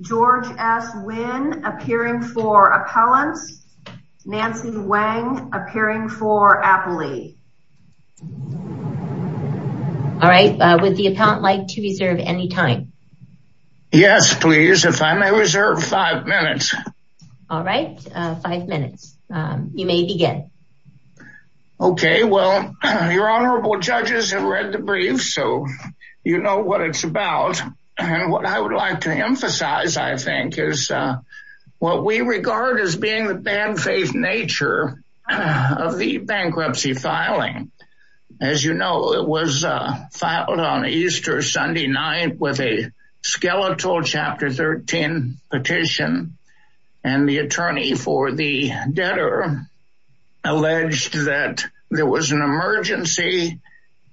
GEORGE S. WYNN APPEARING FOR APPELLANTS NANCY WENG APPEARING FOR APPLELEE all right would the appellant like to reserve any time yes please if i may reserve five minutes all right uh five minutes um you may begin okay well your honorable judges have read the brief so you know what it's about and what i would like to emphasize i think is uh what we regard as being the bad faith nature of the bankruptcy filing as you know it was uh filed on easter sunday night with a skeletal chapter 13 petition and the attorney for the debtor alleged that there was an emergency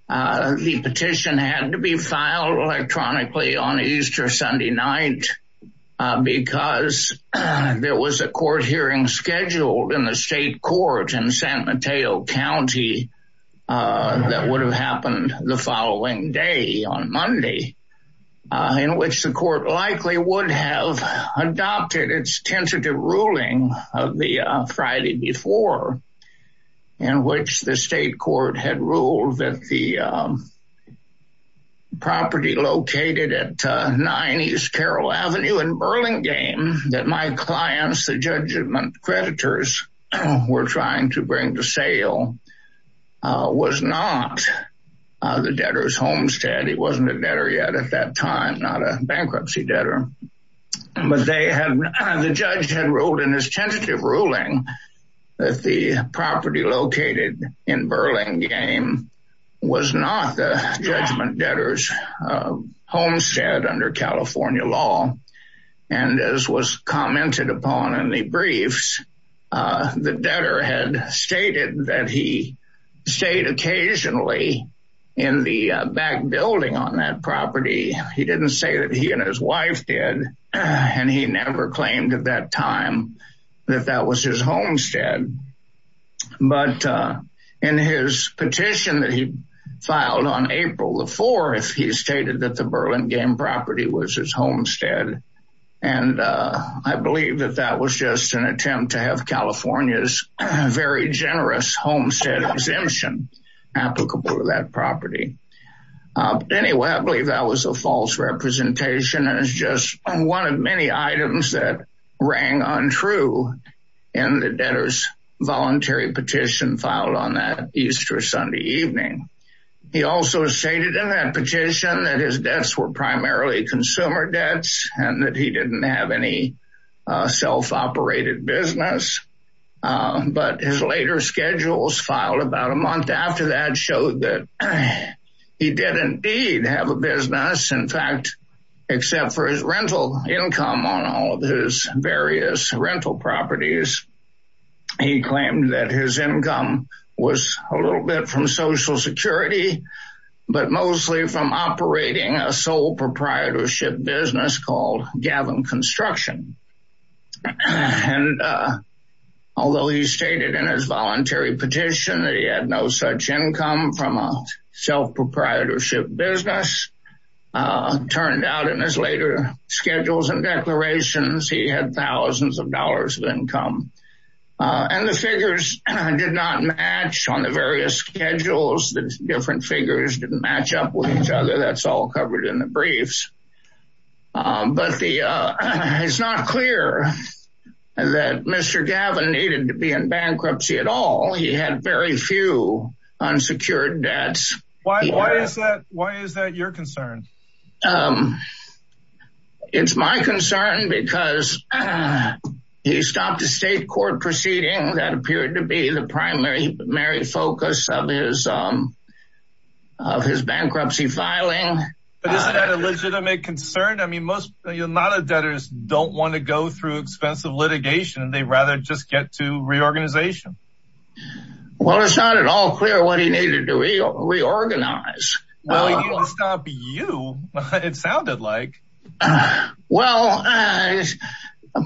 the petition had to be filed electronically on easter sunday night because there was a court hearing scheduled in the state court in san mateo county that would have happened the following day on monday in which the court likely would have adopted its tentative ruling of the uh friday before in which the state court had ruled that the property located at uh 9 east carroll avenue in burlingame that my clients the judgment creditors were trying to bring to sale uh was not uh the debtor's homestead he wasn't a time not a bankruptcy debtor but they had the judge had ruled in his tentative ruling that the property located in burlingame was not the judgment debtors homestead under california law and as was commented upon in the briefs uh the debtor had stated that he stayed occasionally in the back building on that property he didn't say that he and his wife did and he never claimed at that time that that was his homestead but uh in his petition that he filed on april the 4th he stated that the burlingame property was his homestead and uh i believe that that was just an attempt to have california's very generous homestead exemption applicable to that property uh anyway i believe that was a false representation and it's just one of many items that rang untrue in the debtor's voluntary petition filed on that easter sunday evening he also stated in that petition that his debts were primarily consumer debts and that he didn't have any self-operated business but his later schedules filed about a month after that showed that he did indeed have a business in fact except for his rental income on all of his various rental properties he claimed that his income was a little bit from social security but mostly from operating a sole proprietorship business called gavin construction and uh although he stated in his voluntary petition that he had no such income from a self-proprietorship business uh turned out in his later schedules and declarations he had thousands of dollars of income and the figures did not match on the various schedules the different figures didn't match up with each other that's all covered in the briefs but the uh it's not clear that mr gavin needed to be in bankruptcy at all he had very few unsecured debts why is that why he stopped a state court proceeding that appeared to be the primary very focus of his um of his bankruptcy filing but isn't that a legitimate concern i mean most not a debtors don't want to go through expensive litigation they rather just get to reorganization well it's not at all clear what he needed to reorganize well he didn't stop you it sounded like well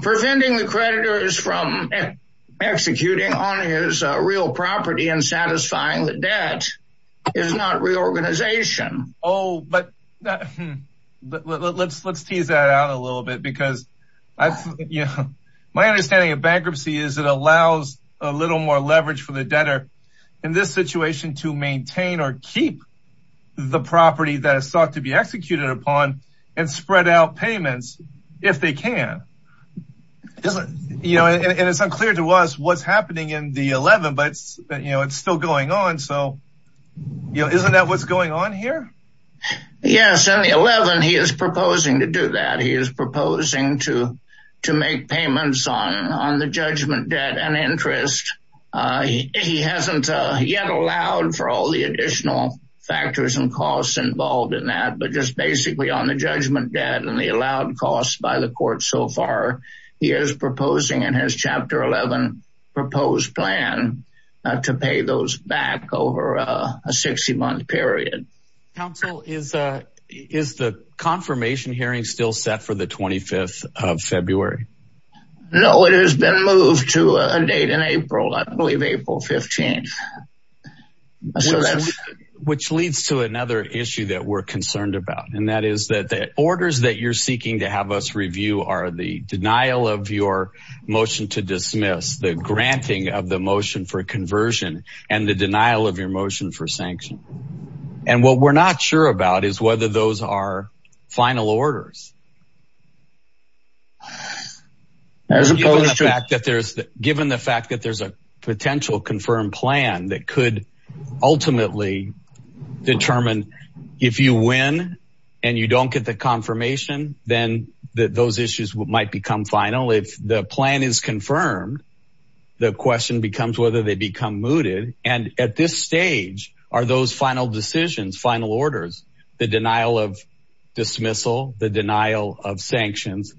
preventing the creditors from executing on his real property and satisfying the debt is not reorganization oh but let's let's tease that out a little bit because my understanding of bankruptcy is it allows a little more leverage for the debtor in this if they can isn't you know and it's unclear to us what's happening in the 11 but you know it's still going on so you know isn't that what's going on here yes in the 11 he is proposing to do that he is proposing to to make payments on on the judgment debt and interest he hasn't yet allowed for all the additional factors and costs involved in that but just basically on the judgment debt and the allowed costs by the court so far he is proposing in his chapter 11 proposed plan to pay those back over a 60 month period council is uh is the confirmation hearing still set for the 25th of february no it has been moved to a date in april i believe april 15th which leads to another issue that we're concerned about and that is that the orders that you're seeking to have us review are the denial of your motion to dismiss the granting of the motion for conversion and the denial of your motion for sanction and what we're not sure about is whether those are final orders as opposed to the fact that there's given the fact that there's a potential confirmed plan that could ultimately determine if you win and you don't get the confirmation then that those issues might become final if the plan is confirmed the question becomes whether they become mooted and at this stage are those final decisions final orders the denial of dismissal the denial of sanctions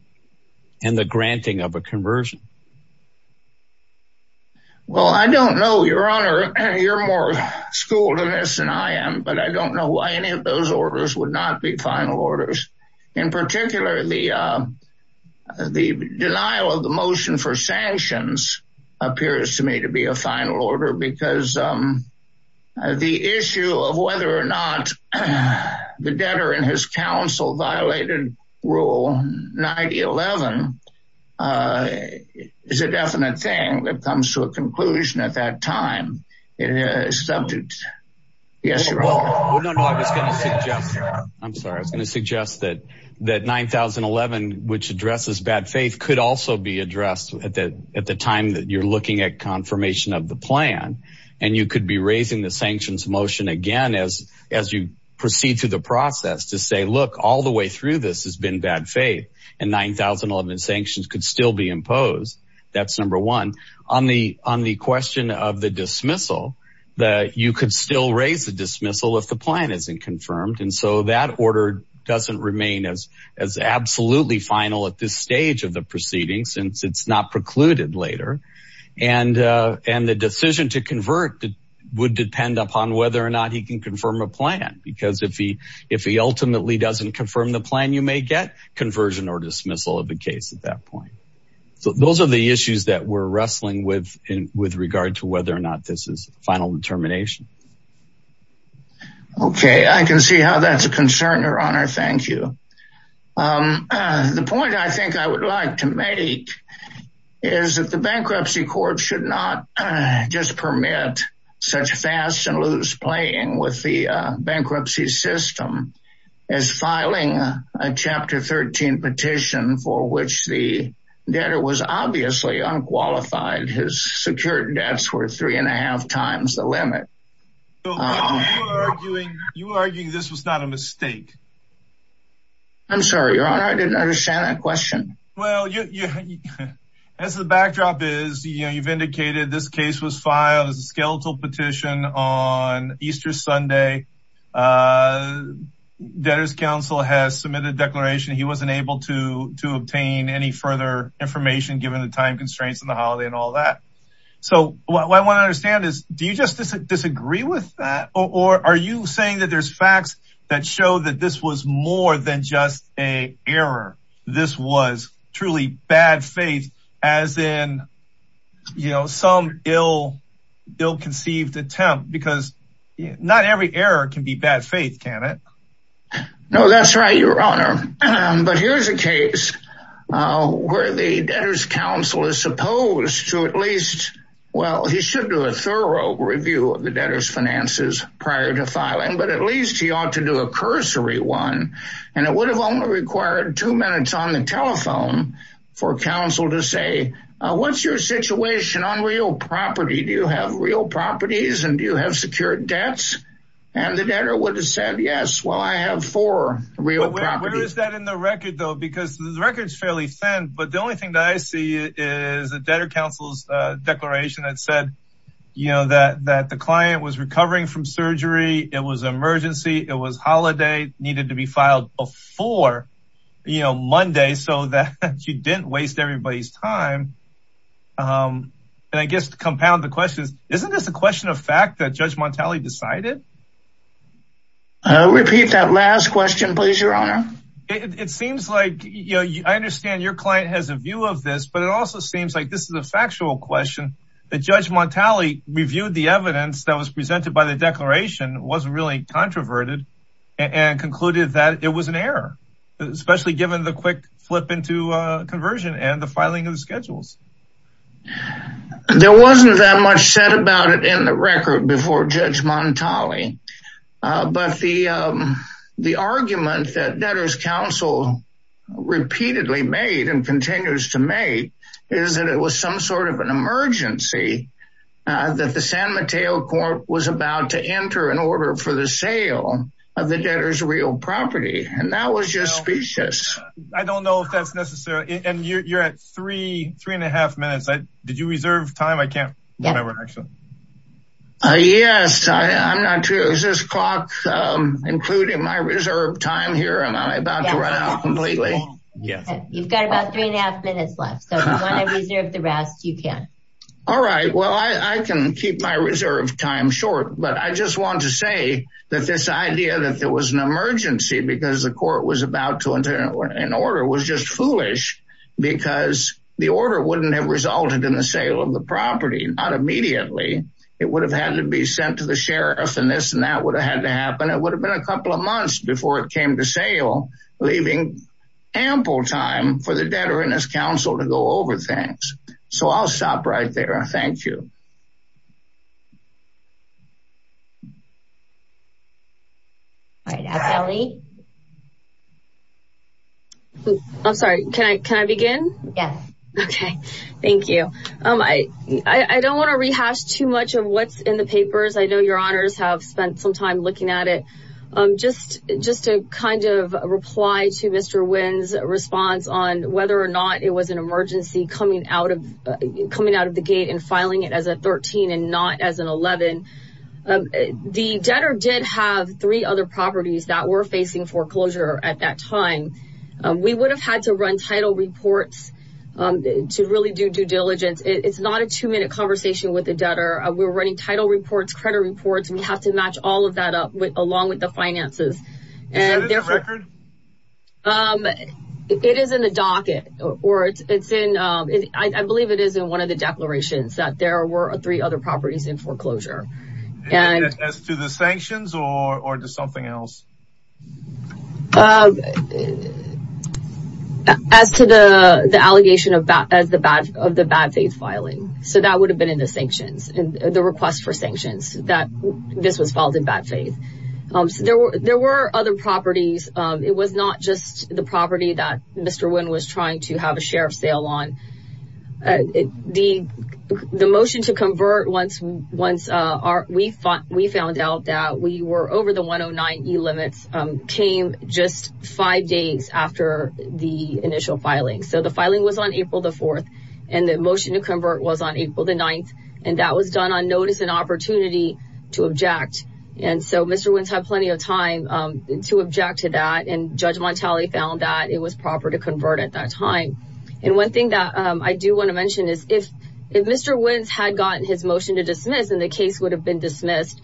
and the granting of a conversion well i don't know your honor you're more schooled in this than i am but i don't know why any of those orders would not be final orders in particular the uh the denial of the motion for sanctions appears to me to be a final order because um the issue of whether or not the debtor and his counsel violated rule 9011 is a definite thing that comes to a conclusion at that time it is subject yes you're wrong well no no i was going to suggest i'm sorry i was going to suggest that that 9011 which addresses bad faith could also be addressed at the at the time that you're looking at confirmation of the proceed through the process to say look all the way through this has been bad faith and 9011 sanctions could still be imposed that's number one on the on the question of the dismissal that you could still raise the dismissal if the plan isn't confirmed and so that order doesn't remain as as absolutely final at this stage of the proceedings since it's not precluded later and uh and the decision to convert would depend upon whether or not he can confirm a plan because if he if he ultimately doesn't confirm the plan you may get conversion or dismissal of the case at that point so those are the issues that we're wrestling with in with regard to whether or not this is final determination okay i can see how that's a concern your honor thank you um the point i think i would like to make is that the bankruptcy court should not just permit such fast and loose playing with the bankruptcy system as filing a chapter 13 petition for which the debtor was obviously unqualified his secured debts were three and a half times the limit you're arguing this was not a mistake i'm sorry your honor i didn't understand that question well you as the backdrop is you know you've indicated this case was filed as a skeletal petition on easter sunday uh debtors council has submitted declaration he wasn't able to to obtain any further information given the time constraints on the holiday and all that so what i want to understand is do you just disagree with that or are you saying that there's facts that show that this was more than just a error this was truly bad faith as in you know some ill ill-conceived attempt because not every error can be bad faith can it no that's right your honor but here's a case uh where the debtors council is supposed to at least well he should do a thorough review of the debtor's finances prior to filing but at least he ought to do a cursory one and it would have only required two minutes on the telephone for council to say what's your situation on real property do you have real properties and do you have secured debts and the debtor would have said yes well i have four real property where is that in the record though because the record is fairly thin but the only thing that i see is the debtor declaration that said you know that that the client was recovering from surgery it was emergency it was holiday needed to be filed before you know monday so that you didn't waste everybody's time um and i guess to compound the questions isn't this a question of fact that judge montale decided i'll repeat that last question please your honor it seems like you i understand your client has a view of this but it also seems like this is a factual question that judge montale reviewed the evidence that was presented by the declaration wasn't really controverted and concluded that it was an error especially given the quick flip into conversion and the filing of the schedules there wasn't that much said about it in the record before judge montale uh but the um the argument that debtor's council repeatedly made and continues to make is that it was some sort of an emergency that the san mateo court was about to enter an order for the sale of the debtor's real property and that was just specious i don't know if that's necessary and you're at three three and a half minutes i did you reserve time i can't remember actually uh yes i i'm not sure is this clock um including my reserve time here and i'm about to run out completely yes you've got about three and a half minutes left so if you want to reserve the rest you can all right well i i can keep my reserve time short but i just want to say that this idea that there was an emergency because the court was about to enter an order was just foolish because the order wouldn't have resulted in the sale of the property not immediately it would have had to be sent to the sheriff and this and that would have had to happen it would have been a couple of months before it came to sale leaving ample time for the debtor and his council to go over things so i'll stop right there thank you i'm sorry can i can i begin yes okay thank you um i i don't want to rehash too much of what's in the papers i know your honors have spent some time looking at it um just just to kind of reply to mr win's response on whether or not it was an emergency coming out of coming out of the gate and filing it as a 13 and not as an 11 the debtor did have three other properties that were facing foreclosure at that time we would have had to run title reports to really do due diligence it's not a two-minute conversation with the debtor we're running title reports credit reports we have to match all of that up with along with finances and there's a record um it is in the docket or it's it's in um i believe it is in one of the declarations that there were three other properties in foreclosure and as to the sanctions or or just something else um as to the the allegation of bat as the bat of the bad faith filing so that would have been in the sanctions and the request for sanctions that this was filed um so there were there were other properties um it was not just the property that mr win was trying to have a share of sale on the the motion to convert once once uh our we thought we found out that we were over the 109 e limits um came just five days after the initial filing so the filing was on april the 4th and the motion to convert was on april the 9th and that was done notice and opportunity to object and so mr wins had plenty of time um to object to that and judge montale found that it was proper to convert at that time and one thing that um i do want to mention is if if mr wins had gotten his motion to dismiss and the case would have been dismissed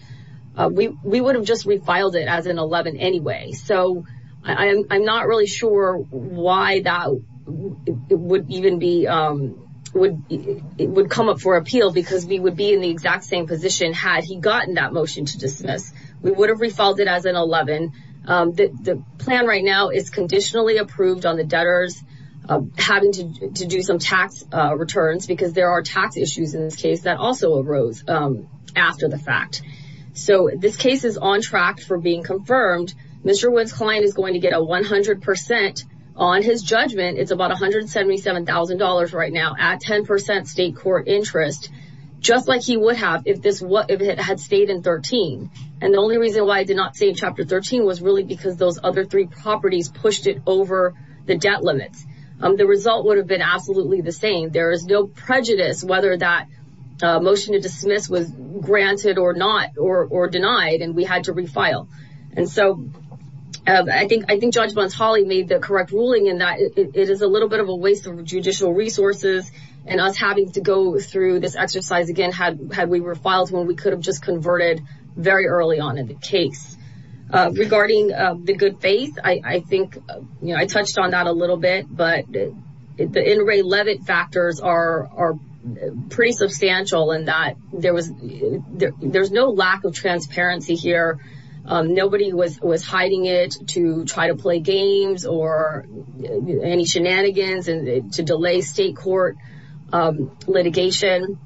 uh we we would have just refiled it as an 11 anyway so i i'm not really sure why that would even be um would it would come up for appeal because we would be in the exact same position had he gotten that motion to dismiss we would have refiled it as an 11 um the plan right now is conditionally approved on the debtors having to do some tax uh returns because there are tax issues in this case that also arose um after the fact so this case is on track for being about $177,000 right now at 10 state court interest just like he would have if this what if it had stayed in 13 and the only reason why i did not say chapter 13 was really because those other three properties pushed it over the debt limits um the result would have been absolutely the same there is no prejudice whether that motion to dismiss was granted or not or or denied and we a little bit of a waste of judicial resources and us having to go through this exercise again had had we were filed when we could have just converted very early on in the case uh regarding uh the good faith i i think you know i touched on that a little bit but the inray levitt factors are are pretty substantial in that there was there's no lack of transparency here um nobody was was hiding it to try to play games or any shenanigans and to delay state court um litigation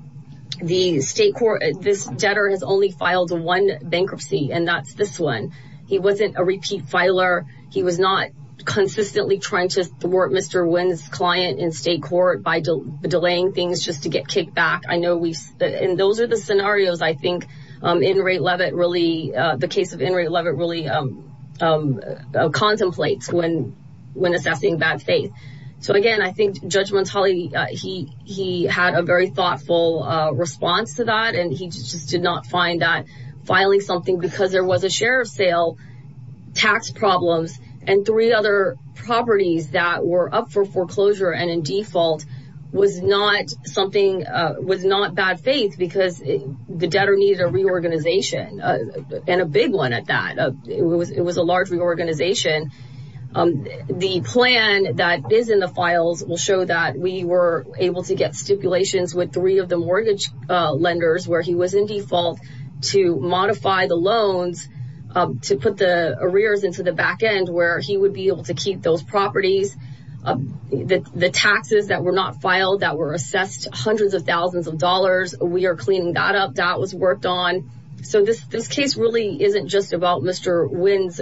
the state court this debtor has only filed one bankruptcy and that's this one he wasn't a repeat filer he was not consistently trying to thwart mr win's client in state court by delaying things just to get kicked back i know we've and those are the scenarios i think um in rate levitt really the case of in rate levitt really um um contemplates when when assessing bad faith so again i think judge mentale he he had a very thoughtful uh response to that and he just did not find that filing something because there was a share of sale tax problems and three other properties that were up for foreclosure and in default was not something uh was not bad faith because the debtor needed a reorganization and a big one at that it was it was a large reorganization um the plan that is in the files will show that we were able to get stipulations with three of the mortgage uh lenders where he was in default to modify the loans to put the arrears into the back end where he would be able to keep those properties the the taxes that were that were assessed hundreds of thousands of dollars we are cleaning that up that was worked on so this this case really isn't just about mr win's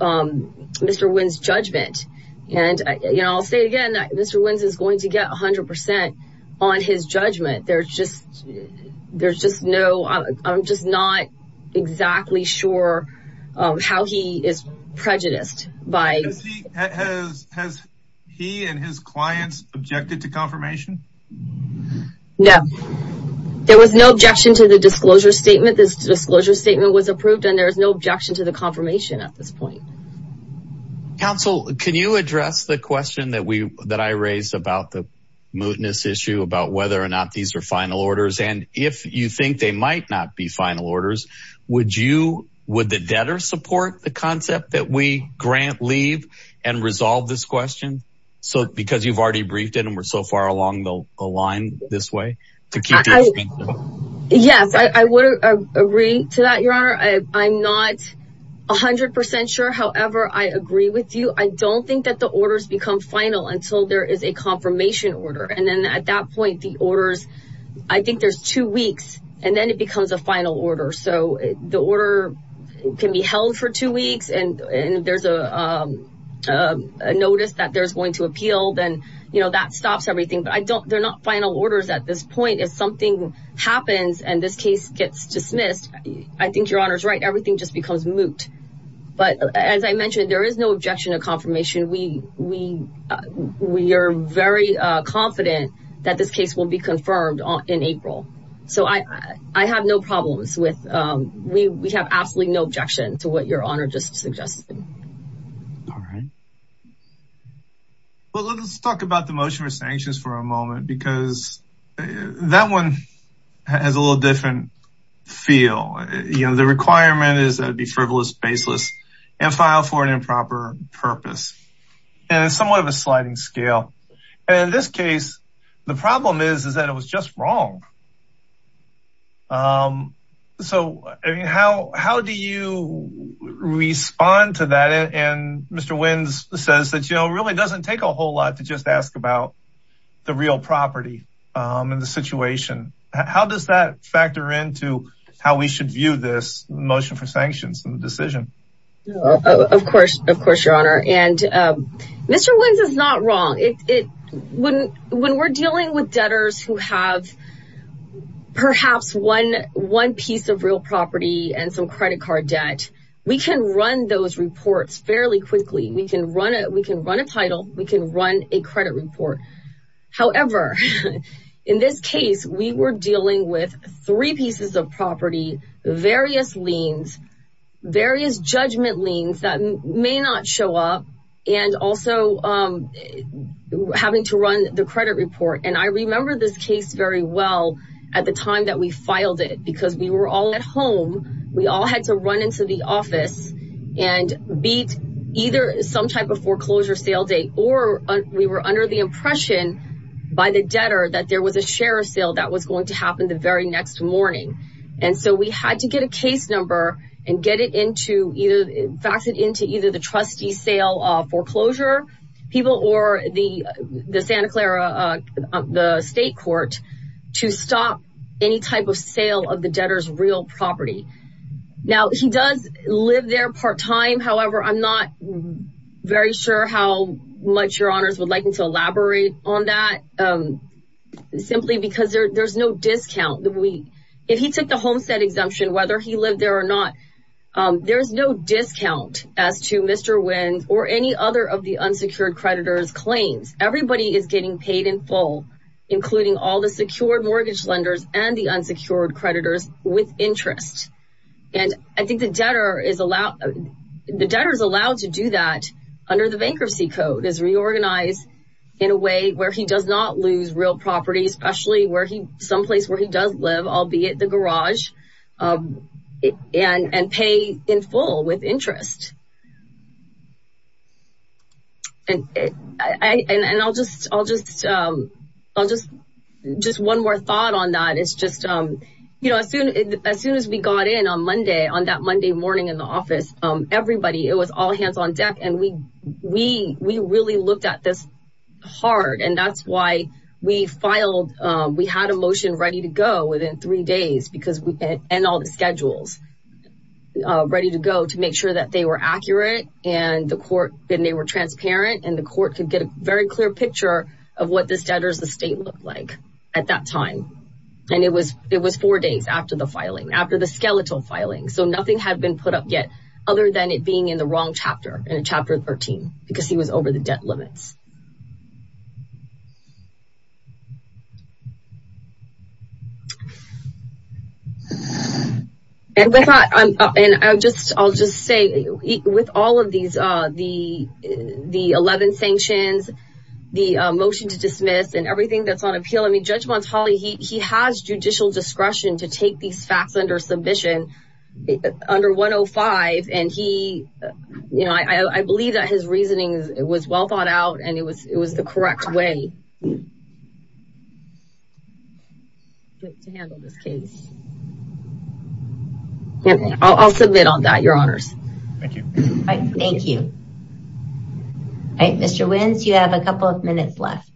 um mr win's judgment and you know i'll say again that mr wins is going to get 100 on his judgment there's just there's just no i'm just not exactly sure um how he is prejudiced by has he and his clients objected to confirmation no there was no objection to the disclosure statement this disclosure statement was approved and there is no objection to the confirmation at this point council can you address the question that we that i raised about the mootness issue about whether or not these are final orders would you would the debtor support the concept that we grant leave and resolve this question so because you've already briefed it and we're so far along the line this way yes i would agree to that your honor i i'm not a hundred percent sure however i agree with you i don't think that the orders become final until there is a confirmation order and then at that orders i think there's two weeks and then it becomes a final order so the order can be held for two weeks and and there's a um a notice that there's going to appeal then you know that stops everything but i don't they're not final orders at this point if something happens and this case gets dismissed i think your honor's right everything just becomes moot but as i mentioned there is no confident that this case will be confirmed on in april so i i have no problems with um we we have absolutely no objection to what your honor just suggested all right well let's talk about the motion for sanctions for a moment because that one has a little different feel you know the requirement is that would be frivolous baseless and file for an improper purpose and somewhat of scale and in this case the problem is is that it was just wrong um so i mean how how do you respond to that and mr wins says that you know really doesn't take a whole lot to just ask about the real property um and the situation how does that factor into how we should view this motion for sanctions and the decision of course of course your honor and um mr wins is not wrong it it wouldn't when we're dealing with debtors who have perhaps one one piece of real property and some credit card debt we can run those reports fairly quickly we can run it we can run a title we can run a credit report however in this case we were dealing with three pieces of property various liens various judgment liens that may not show up and also um having to run the credit report and i remember this case very well at the time that we filed it because we were all at home we all had to run into the office and beat either some type of foreclosure sale date or we were under the impression by the debtor that there was a share sale that was going to happen the very next morning and so we had to get a case number and get it into either fax it into either the trustee sale uh foreclosure people or the the santa clara uh the state court to stop any type of sale of the debtor's real property now he does live there part-time however i'm not very sure how much your honors would like him to elaborate on that um simply because there there's no discount that we if he took the homestead exemption whether he lived there or not um there's no discount as to mr wind or any other of the unsecured creditors claims everybody is getting paid in full including all the secured mortgage lenders and the unsecured creditors with interest and i think the debtor is allowed the debtor is allowed to do that under the bankruptcy code is reorganized in a way where he does not lose real property especially where he someplace where he does live albeit the garage and and pay in full with interest and i and i'll just i'll just um i'll just just one more thought on that it's just um you know as soon as soon as we got in on monday on that monday morning in the office um everybody it was all hands on deck and we we we really looked at this hard and that's why we filed um we had a motion ready to go within three days because we and all the schedules uh ready to go to make sure that they were accurate and the court and they were transparent and the court could get a very after the filing after the skeletal filing so nothing had been put up yet other than it being in the wrong chapter in chapter 13 because he was over the debt limits and i thought i'm and i'll just i'll just say with all of these uh the the 11 sanctions the motion to dismiss and everything that's on appeal i mean judge monts holly he he has judicial discretion to take these facts under submission under 105 and he you know i i believe that his reasoning was well thought out and it was it was the correct way great to handle this case i'll submit on that your honors thank you all right thank you all right mr wins you have a couple of minutes left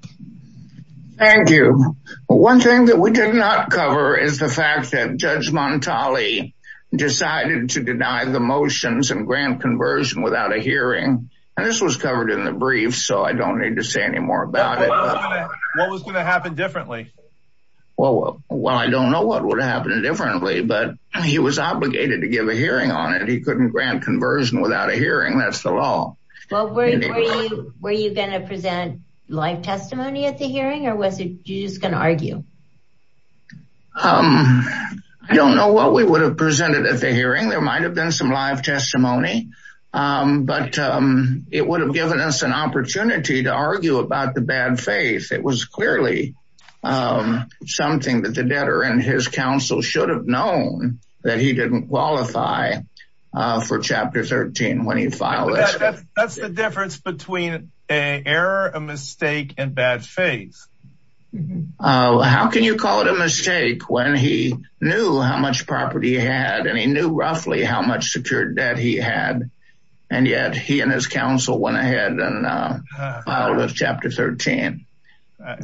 thank you one thing that we did not cover is the fact that judge montale decided to deny the motions and grant conversion without a hearing and this was covered in the brief so i don't need to say any more about it what was going to happen differently well well i don't know what would happen differently but he was obligated to give a hearing on it he couldn't grant conversion without a hearing that's the law well were you were you going to present live testimony at the hearing or was it you're just going to argue um i don't know what we would have presented at the hearing there might have been some live testimony um but um it would have given us an opportunity to argue about the bad faith it was clearly um something that the debtor and his counsel should have known that he didn't qualify for chapter 13 when he filed that's the difference between a error a mistake and bad faith how can you call it a mistake when he knew how much property he had and he knew roughly how much secured debt he had and yet he and his counsel went ahead and filed with chapter 13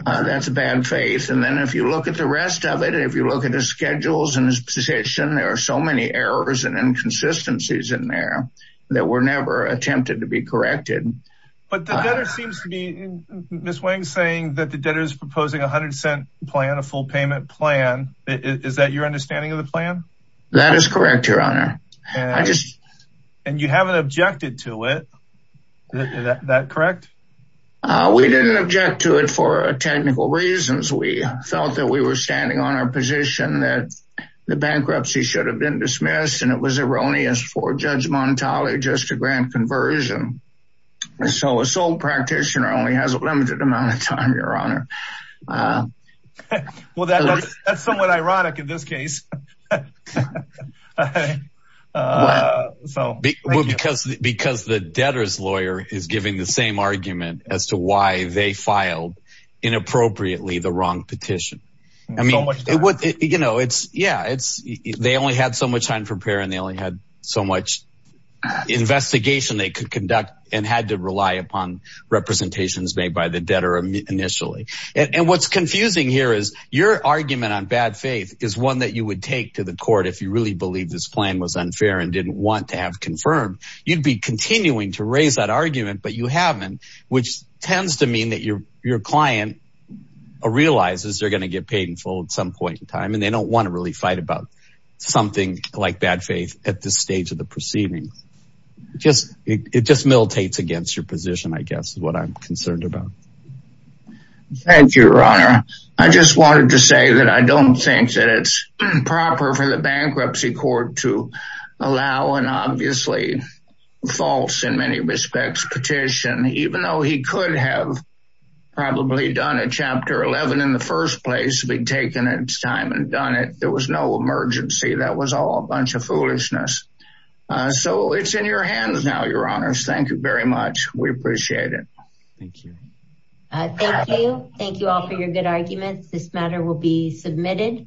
that's a bad faith and then if you look at the rest of it and if you look at schedules and his position there are so many errors and inconsistencies in there that were never attempted to be corrected but the debtor seems to be miss wang saying that the debtor is proposing a hundred cent plan a full payment plan is that your understanding of the plan that is correct your honor i just and you haven't objected to it that correct uh we didn't object to for technical reasons we felt that we were standing on our position that the bankruptcy should have been dismissed and it was erroneous for judge montale just to grant conversion so a sole practitioner only has a limited amount of time your honor well that's that's somewhat ironic in this case uh so because because the debtor's lawyer is giving the same argument as to why they filed inappropriately the wrong petition i mean you know it's yeah it's they only had so much time for prayer and they only had so much investigation they could conduct and had to rely upon representations made by the debtor initially and what's confusing here is your argument on bad faith is one that you would take to the court if you really believe this plan was unfair and didn't want to have confirmed you'd be continuing to raise that argument but you haven't which tends to mean that your your client realizes they're going to get paid in full at some point in time and they don't want to really fight about something like bad faith at this stage of the proceedings just it just militates against your position i guess what i'm concerned about thank you your honor i just wanted to say that i don't think that it's proper for the bankruptcy court to allow an obviously false in many respects petition even though he could have probably done a chapter 11 in the first place being taken at its time and done it there was no emergency that was all a bunch of foolishness uh so it's in your hands now your honors thank very much we appreciate it thank you thank you thank you all for your good arguments this matter will be submitted